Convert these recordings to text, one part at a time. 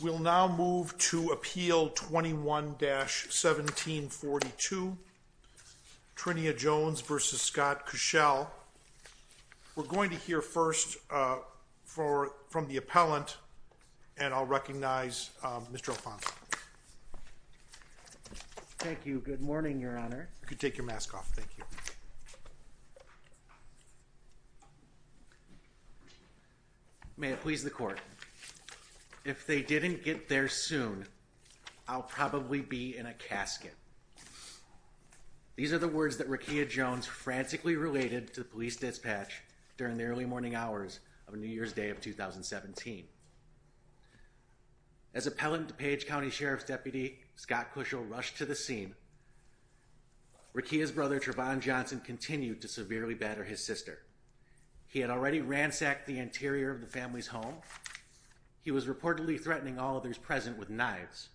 We'll now move to Appeal 21-1742, Trinia Jones v. Scott Kuschell. We're going to hear first from the appellant, and I'll recognize Mr. Alfonso. Thank you. Good morning, Your Honor. You can take your mask off, thank you. May it please the Court. If they didn't get there soon, I'll probably be in a casket. These are the words that Rekia Jones frantically related to the police dispatch during the early morning hours of New Year's Day of 2017. As Appellant Page County Sheriff's Deputy Scott Kuschell rushed to the scene, Rekia's brother Trevon Johnson continued to severely batter his sister. He had already ransacked the interior of the family's home. He was reportedly threatening all others present with knives.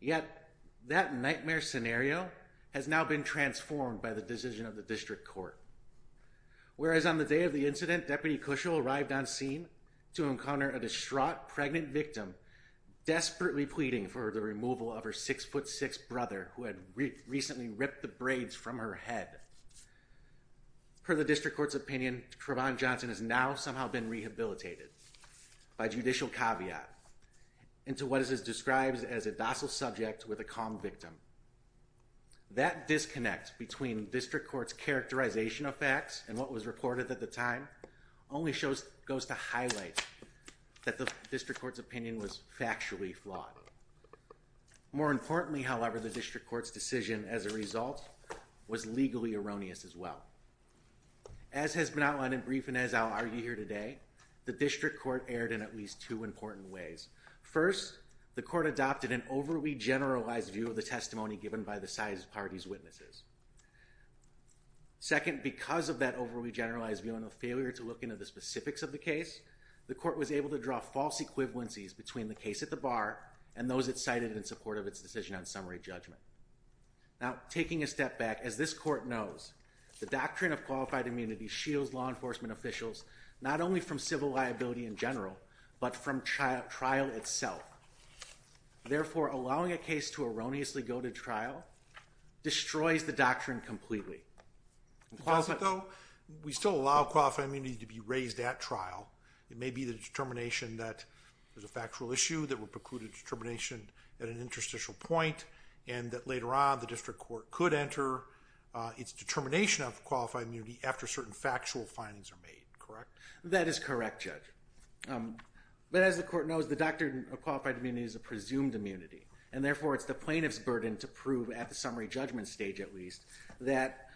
Yet that nightmare scenario has now been transformed by the decision of the District Court. Whereas on the day of the incident, Deputy Kuschell arrived on scene to encounter a distraught pregnant victim desperately pleading for the removal of her 6'6 brother who had recently ripped the braids from her head. Per the District Court's opinion, Trevon Johnson has now somehow been rehabilitated by judicial caveat into what is described as a docile subject with a calm victim. That disconnect between District Court's characterization of facts and what was reported at the time only goes to highlight that the District Court's opinion was factually flawed. More importantly, however, the District Court's decision as a result was legally erroneous as well. As has been outlined in brief and as I'll argue here today, the District Court erred in at least two important ways. First, the Court adopted an overly generalized view of the testimony given by the side party's witnesses. Second, because of that overly generalized view and a failure to look into the specifics of the case, the Court was able to draw false equivalencies between the case at the bar and those it cited in support of its decision on summary judgment. Now, taking a step back, as this Court knows, the doctrine of qualified immunity shields law enforcement officials not only from civil liability in general, but from trial itself. Therefore, allowing a case to erroneously go to trial destroys the doctrine completely. The concept, though, we still allow qualified immunity to be raised at trial. It may be the determination that there's a factual issue that would preclude a determination at an interstitial point and that later on the District Court could enter its determination of qualified immunity after certain factual findings are made, correct? That is correct, Judge. But as the Court knows, the doctrine of qualified immunity is a presumed immunity, and therefore it's the plaintiff's burden to prove at the summary judgment stage at least that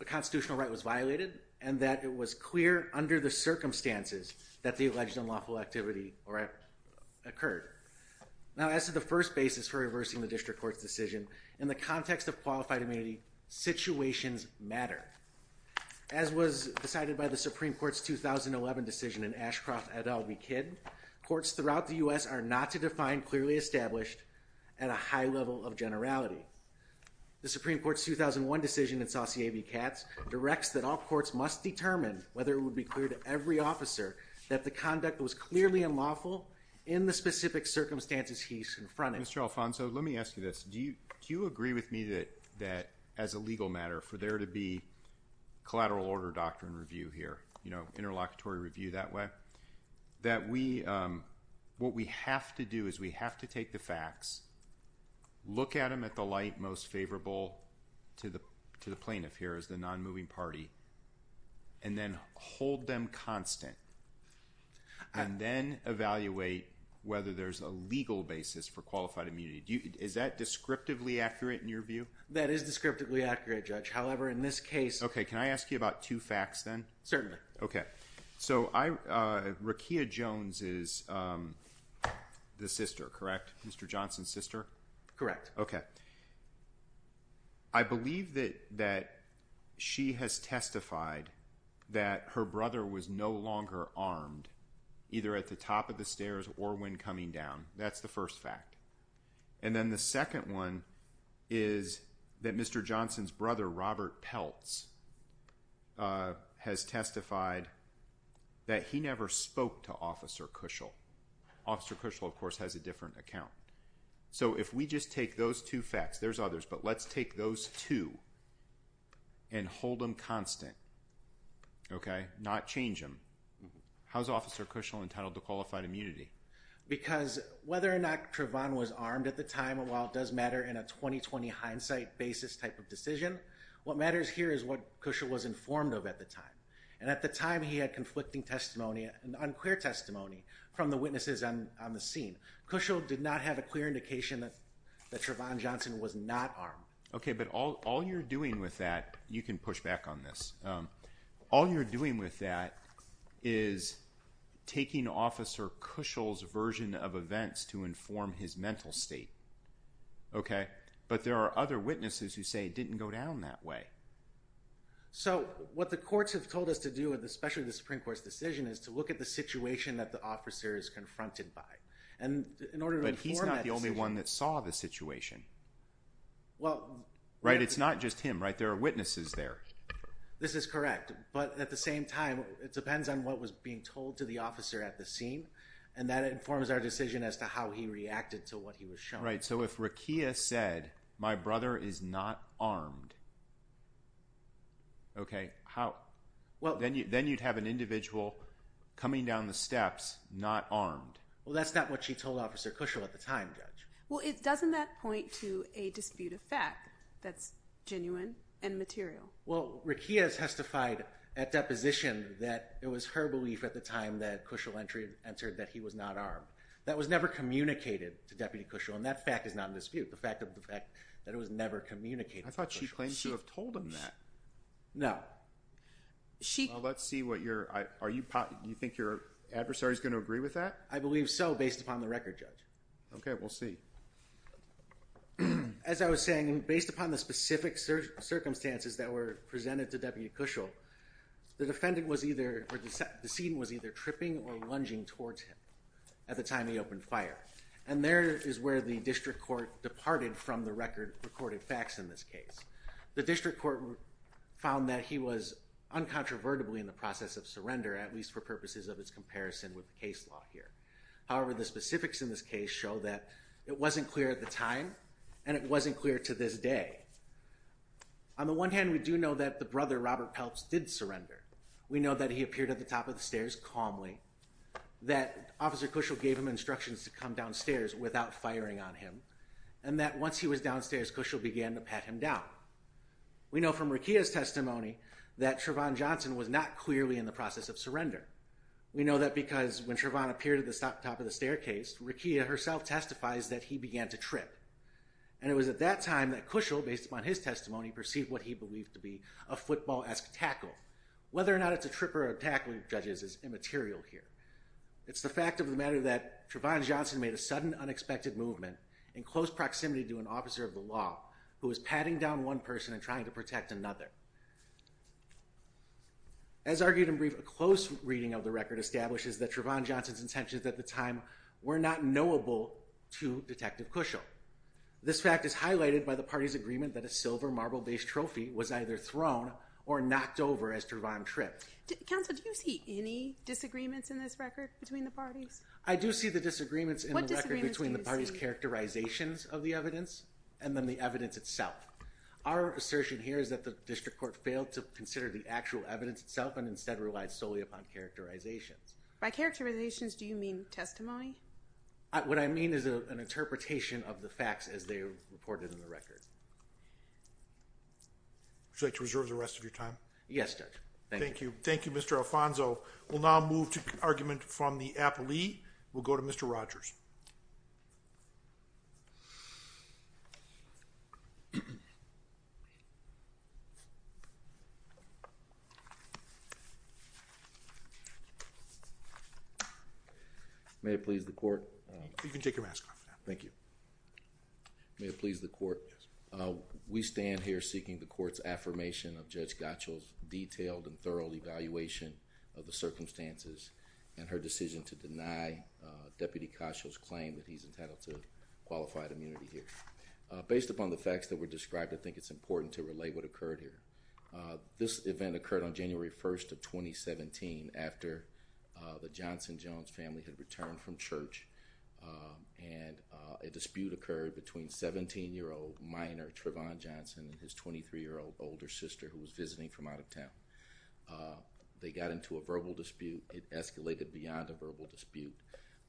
a constitutional right was violated and that it was clear under the circumstances that the alleged unlawful activity occurred. Now, as to the first basis for reversing the District Court's decision, in the context of qualified immunity, situations matter. As was decided by the Supreme Court's 2011 decision in Ashcroft et al. v. Kidd, courts throughout the U.S. are not to define clearly established at a high level of generality. The Supreme Court's 2001 decision in Saucier v. Katz directs that all courts must determine whether it would be clear to every officer that the conduct was clearly unlawful in the specific circumstances he confronted. Mr. Alfonso, let me ask you this. Do you agree with me that as a legal matter, for there to be collateral order doctrine review here, you know, interlocutory review that way, that what we have to do is we have to take the facts, look at them at the light most favorable to the plaintiff here as the nonmoving party, and then hold them constant and then evaluate whether there's a legal basis for qualified immunity. Is that descriptively accurate in your view? That is descriptively accurate, Judge. However, in this case... Okay. Can I ask you about two facts then? Certainly. Okay. So, Rekia Jones is the sister, correct? Mr. Johnson's sister? Correct. Okay. I believe that she has testified that her brother was no longer armed, either at the top of the stairs or when coming down. That's the first fact. And then the second one is that Mr. Johnson's brother, Robert Peltz, has testified that he never spoke to Officer Cushel. Officer Cushel, of course, has a different account. So, if we just take those two facts, there's others, but let's take those two and hold them constant, okay? Not change them. How's Officer Cushel entitled to qualified immunity? Because whether or not Trevon was armed at the time, while it does matter in a 20-20 hindsight basis type of decision, what matters here is what Cushel was informed of at the time. And at the time, he had conflicting testimony and unclear testimony from the witnesses on the scene. Cushel did not have a clear indication that Trevon Johnson was not armed. Okay, but all you're doing with that, you can push back on this, all you're doing with that is taking Officer Cushel's version of events to inform his mental state, okay? But there are other witnesses who say it didn't go down that way. So, what the courts have told us to do, especially the Supreme Court's decision, is to look at the situation that the officer is confronted by. But he's not the only one that saw the situation, right? It's not just him, right? There are witnesses there. This is correct, but at the same time, it depends on what was being told to the officer at the scene, and that informs our decision as to how he reacted to what he was shown. Right, so if Rekia said, my brother is not armed, okay, how? Well, then you'd have an individual coming down the steps not armed. Well, that's not what she told Officer Cushel at the time, Judge. Well, doesn't that point to a dispute of fact that's genuine and material? Well, Rekia has testified at deposition that it was her belief at the time that Cushel entered that he was not armed. That was never communicated to Deputy Cushel, and that fact is not in dispute, the fact of the fact that it was never communicated to Cushel. I thought she claimed to have told him that. No. Well, let's see what your – do you think your adversary is going to agree with that? I believe so, based upon the record, Judge. Okay, we'll see. As I was saying, based upon the specific circumstances that were presented to Deputy Cushel, the defendant was either – or the decedent was either tripping or lunging towards him at the time he opened fire. And there is where the district court departed from the record of recorded facts in this case. The district court found that he was uncontrovertibly in the process of surrender, at least for purposes of its comparison with the case law here. However, the specifics in this case show that it wasn't clear at the time, and it wasn't clear to this day. On the one hand, we do know that the brother, Robert Pelps, did surrender. We know that he appeared at the top of the stairs calmly, that Officer Cushel gave him instructions to come downstairs without firing on him, and that once he was downstairs, Cushel began to pat him down. We know from Rekia's testimony that Trevon Johnson was not clearly in the process of surrender. We know that because when Trevon appeared at the top of the staircase, Rekia herself testifies that he began to trip. And it was at that time that Cushel, based upon his testimony, perceived what he believed to be a football-esque tackle. Whether or not it's a trip or a tackle, judges, is immaterial here. It's the fact of the matter that Trevon Johnson made a sudden unexpected movement in close proximity to an officer of the law, who was patting down one person and trying to protect another. As argued in brief, a close reading of the record establishes that Trevon Johnson's intentions at the time were not knowable to Detective Cushel. This fact is highlighted by the parties' agreement that a silver marble-based trophy was either thrown or knocked over as Trevon tripped. Counsel, do you see any disagreements in this record between the parties? I do see the disagreements in the record between the parties' characterizations of the evidence and then the evidence itself. Our assertion here is that the district court failed to consider the actual evidence itself and instead relied solely upon characterizations. By characterizations, do you mean testimony? What I mean is an interpretation of the facts as they were reported in the record. Would you like to reserve the rest of your time? Yes, Judge. Thank you. Thank you, Mr. Alfonso. We'll now move to an argument from the appellee. We'll go to Mr. Rogers. May it please the court. You can take your mask off now. Thank you. May it please the court. Yes, sir. We stand here seeking the court's affirmation of Judge Gottschall's detailed and thorough evaluation of the circumstances and her decision to deny Deputy Cushel's claim that he's entitled to qualified immunity here. Based upon the facts that were described, I think it's important to relate what occurred here. This event occurred on January 1st of 2017 after the Johnson-Jones family had returned from church and a dispute occurred between 17-year-old minor Trevon Johnson and his 23-year-old older sister who was visiting from out of town. They got into a verbal dispute. It escalated beyond a verbal dispute.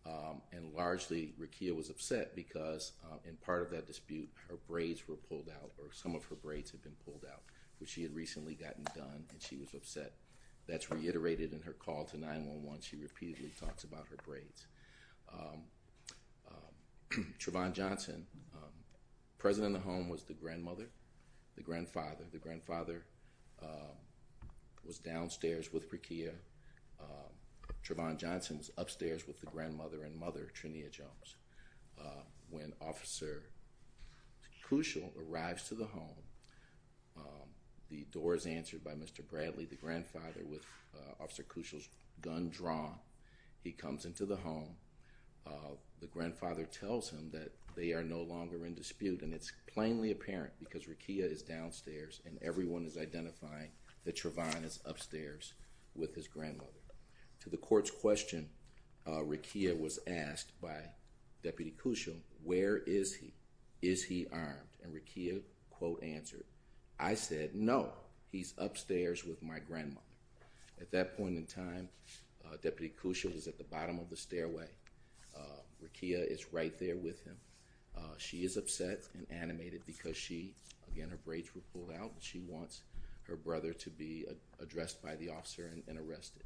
And largely, Rekia was upset because in part of that dispute, her braids were pulled out or some of her braids had been pulled out, which she had recently gotten done, and she was upset. That's reiterated in her call to 911. She repeatedly talks about her braids. Trevon Johnson, present in the home, was the grandmother, the grandfather. The grandfather was downstairs with Rekia. Trevon Johnson's upstairs with the grandmother and mother, Trinia Jones. When Officer Cushel arrives to the home, the door is answered by Mr. Bradley, the grandfather, with Officer Cushel's gun drawn. He comes into the home. The grandfather tells him that they are no longer in dispute, and it's plainly apparent because Rekia is downstairs and everyone is identifying that Trevon is upstairs with his grandmother. To the court's question, Rekia was asked by Deputy Cushel, where is he? Is he armed? And Rekia, quote, answered, I said, no, he's upstairs with my grandmother. At that point in time, Deputy Cushel was at the bottom of the stairway. Rekia is right there with him. She is upset and animated because she, again, her braids were pulled out. She wants her brother to be addressed by the officer and arrested.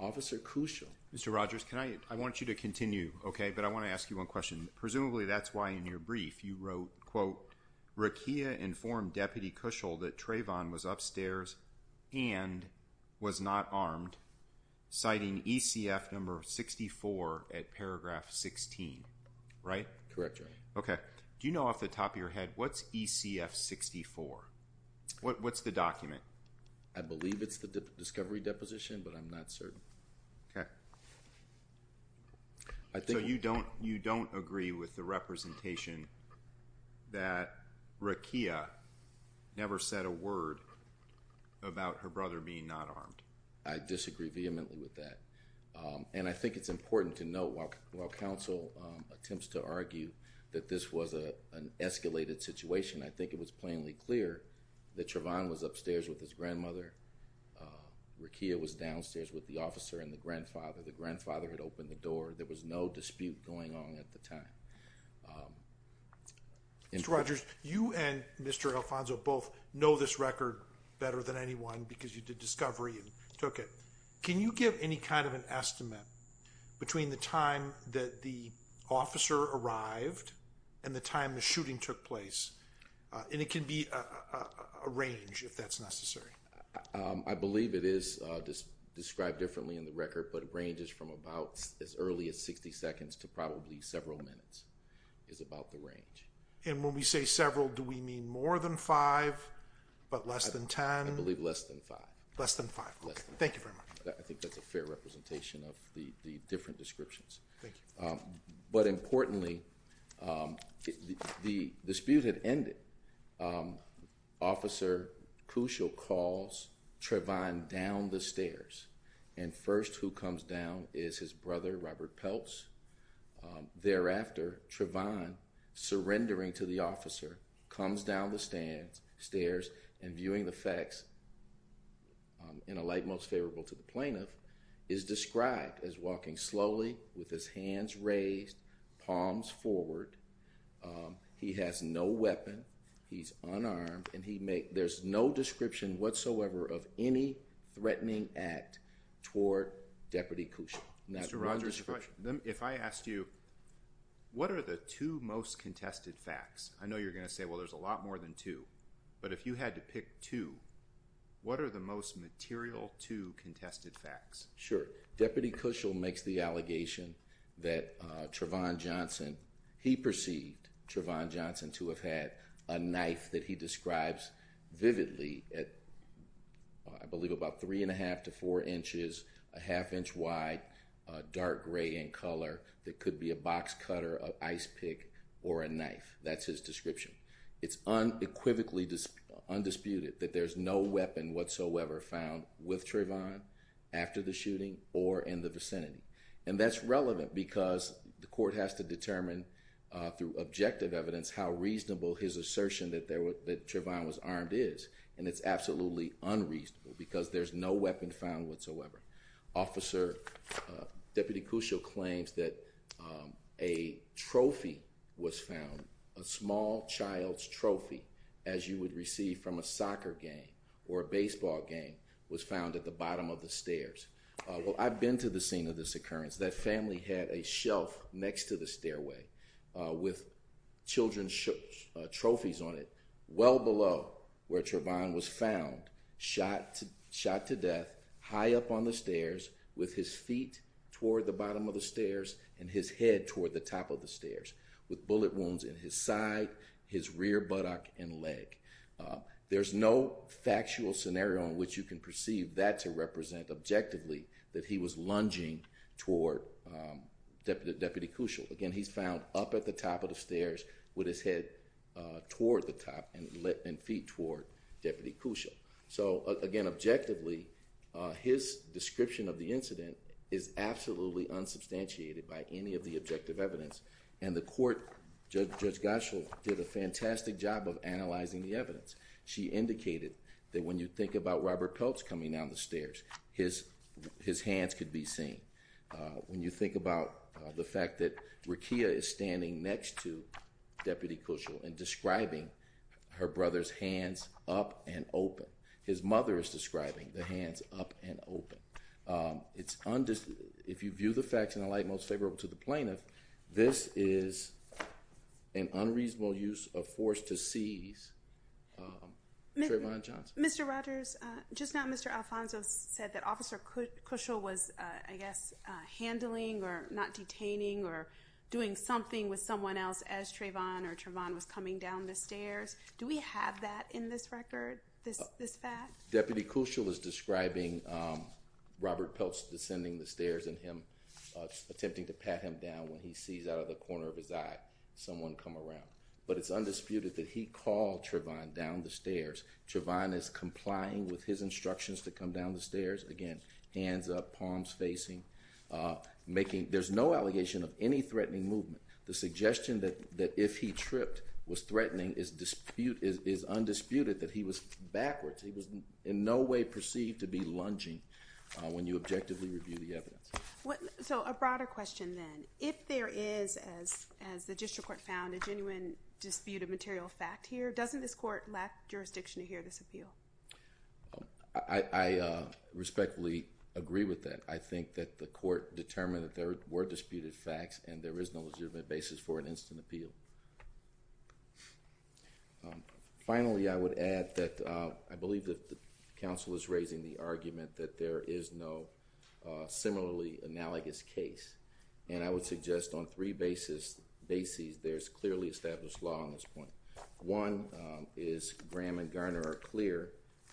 Officer Cushel. Mr. Rogers, I want you to continue, okay, but I want to ask you one question. Presumably that's why in your brief you wrote, quote, Rekia informed Deputy Cushel that Trevon was upstairs and was not armed, citing ECF number 64 at paragraph 16, right? Correct, Your Honor. Okay. Do you know off the top of your head what's ECF 64? What's the document? I believe it's the discovery deposition, but I'm not certain. Okay. So you don't agree with the representation that Rekia never said a word about her brother being not armed? I disagree vehemently with that. And I think it's important to note while counsel attempts to argue that this was an escalated situation, I think it was plainly clear that Trevon was upstairs with his grandmother. Rekia was downstairs with the officer and the grandfather. The grandfather had opened the door. There was no dispute going on at the time. Mr. Rogers, you and Mr. Alfonso both know this record better than anyone because you did discovery and took it. Can you give any kind of an estimate between the time that the officer arrived and the time the shooting took place? And it can be a range if that's necessary. I believe it is described differently in the record, but it ranges from about as early as 60 seconds to probably several minutes is about the range. And when we say several, do we mean more than five but less than ten? I believe less than five. Less than five. Thank you very much. I think that's a fair representation of the different descriptions. Thank you. But importantly, the dispute had ended. Officer Cushel calls Trevon down the stairs, and first who comes down is his brother, Robert Pelts. Thereafter, Trevon, surrendering to the officer, comes down the stairs and, viewing the facts, in a light most favorable to the plaintiff, is described as walking slowly with his hands raised, palms forward. He has no weapon. He's unarmed. There's no description whatsoever of any threatening act toward Deputy Cushel. Mr. Rogers, if I asked you what are the two most contested facts, I know you're going to say, well, there's a lot more than two. But if you had to pick two, what are the most material two contested facts? Sure. Deputy Cushel makes the allegation that Trevon Johnson, he perceived Trevon Johnson to have had a knife that he describes vividly at, I believe, about three and a half to four inches, a half inch wide, dark gray in color that could be a box cutter, an ice pick, or a knife. That's his description. It's unequivocally undisputed that there's no weapon whatsoever found with Trevon after the shooting or in the vicinity. And that's relevant because the court has to determine through objective evidence how reasonable his assertion that Trevon was armed is. And it's absolutely unreasonable because there's no weapon found whatsoever. Officer, Deputy Cushel claims that a trophy was found, a small child's trophy, as you would receive from a soccer game or a baseball game, was found at the bottom of the stairs. Well, I've been to the scene of this occurrence. That family had a shelf next to the stairway with children's trophies on it, well below where Trevon was found, shot to death, high up on the stairs with his feet toward the bottom of the stairs and his head toward the top of the stairs with bullet wounds in his side, his rear buttock, and leg. There's no factual scenario in which you can perceive that to represent objectively that he was lunging toward Deputy Cushel. Again, he's found up at the top of the stairs with his head toward the top and feet toward Deputy Cushel. So again, objectively, his description of the incident is absolutely unsubstantiated by any of the objective evidence. And the court, Judge Goschel, did a fantastic job of analyzing the evidence. She indicated that when you think about Robert Peltz coming down the stairs, his hands could be seen. When you think about the fact that Rekia is standing next to Deputy Cushel and describing her brother's hands up and open. His mother is describing the hands up and open. If you view the facts in a light most favorable to the plaintiff, this is an unreasonable use of force to seize. Trevon Johnson. Mr. Rogers, just now Mr. Alfonso said that Officer Cushel was, I guess, handling or not detaining or doing something with someone else as Trevon or Trevon was coming down the stairs. Do we have that in this record, this fact? Deputy Cushel is describing Robert Peltz descending the stairs and him attempting to pat him down when he sees out of the corner of his eye someone come around. But it's undisputed that he called Trevon down the stairs. Trevon is complying with his instructions to come down the stairs. Again, hands up, palms facing. There's no allegation of any threatening movement. The suggestion that if he tripped was threatening is undisputed, that he was backwards. He was in no way perceived to be lunging when you objectively review the evidence. So a broader question then. If there is, as the district court found, a genuine dispute of material fact here, doesn't this court lack jurisdiction to hear this appeal? I respectfully agree with that. I think that the court determined that there were disputed facts and there is no legitimate basis for an instant appeal. Finally, I would add that I believe that the counsel is raising the argument that there is no similarly analogous case. And I would suggest on three bases there's clearly established law on this point. One is Graham and Garner are clear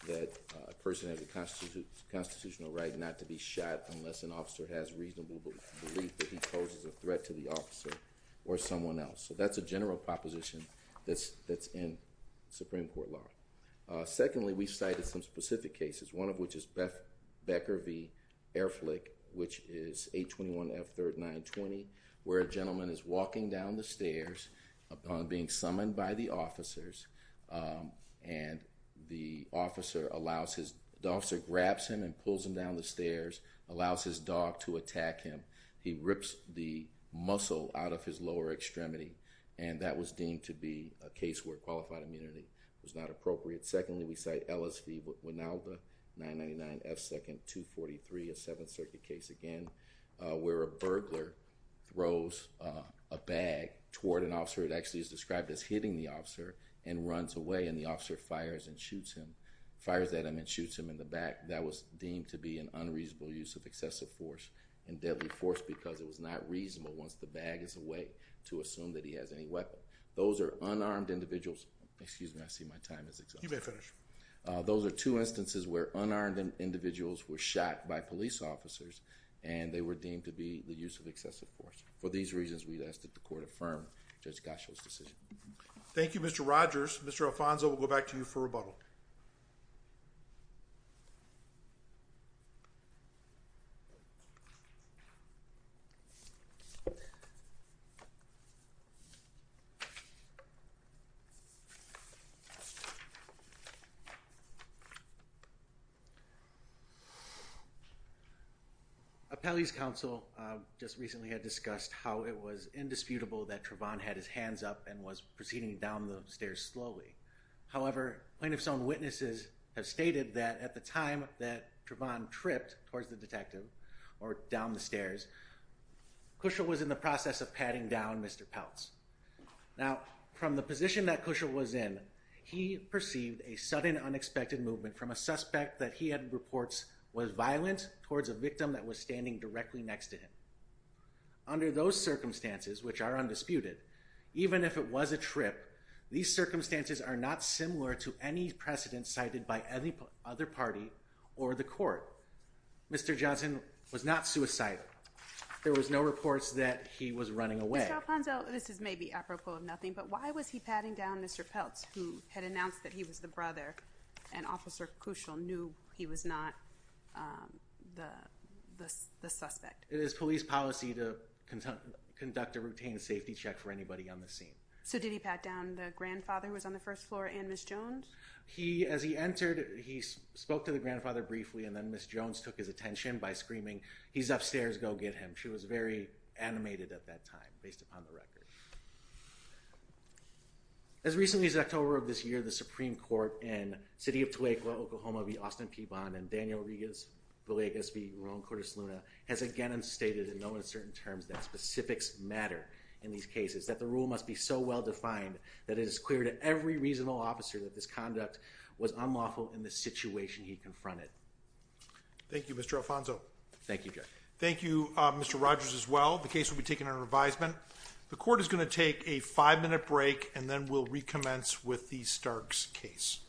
that a person has a constitutional right not to be shot unless an officer has reasonable belief that he poses a threat to the officer or someone else. So that's a general proposition that's in Supreme Court law. Secondly, we cited some specific cases, one of which is Becker v. Erflich, which is 821F3920, where a gentleman is walking down the stairs being summoned by the officers. And the officer grabs him and pulls him down the stairs, allows his dog to attack him. He rips the muscle out of his lower extremity. And that was deemed to be a case where qualified immunity was not appropriate. Secondly, we cite Ellis v. Winalda, 999F243, a Seventh Circuit case again, where a burglar throws a bag toward an officer. It actually is described as hitting the officer and runs away. And the officer fires and shoots him. Fires at him and shoots him in the back. That was deemed to be an unreasonable use of excessive force and deadly force because it was not reasonable once the bag is away to assume that he has any weapon. Those are unarmed individuals. Excuse me, I see my time is exhausted. You may finish. Those are two instances where unarmed individuals were shot by police officers. And they were deemed to be the use of excessive force. For these reasons, we'd ask that the Court affirm Judge Gasho's decision. Thank you, Mr. Rogers. Mr. Alfonso, we'll go back to you for rebuttal. Appellee's counsel just recently had discussed how it was indisputable that Trevon had his hands up and was proceeding down the stairs slowly. However, plaintiff's own witnesses have stated that at the time that Trevon tripped towards the detective or down the stairs, Cushel was in the process of patting down Mr. Peltz. Now, from the position that Cushel was in, he perceived a sudden unexpected movement from a suspect that he had reports was violent towards a victim that was standing directly next to him. Under those circumstances, which are undisputed, even if it was a trip, these circumstances are not similar to any precedent cited by any other party or the Court. Mr. Johnson was not suicidal. There was no reports that he was running away. Mr. Alfonso, this is maybe apropos of nothing, but why was he patting down Mr. Peltz who had announced that he was the brother and Officer Cushel knew he was not the suspect? It is police policy to conduct a routine safety check for anybody on the scene. So did he pat down the grandfather who was on the first floor and Ms. Jones? As he entered, he spoke to the grandfather briefly and then Ms. Jones took his attention by screaming, he's upstairs, go get him. She was very animated at that time based upon the record. As recently as October of this year, the Supreme Court in City of Toledo, Oklahoma v. Austin P. Bond and Daniel Villegas v. Ron Cordes Luna has again stated in no uncertain terms that specifics matter in these cases, that the rule must be so well defined that it is clear to every reasonable officer that this conduct was unlawful in the situation he confronted. Thank you, Mr. Alfonso. Thank you, Judge. Thank you, Mr. Rogers as well. The case will be taken under revisement. The court is going to take a five-minute break and then we'll recommence with the Starks case.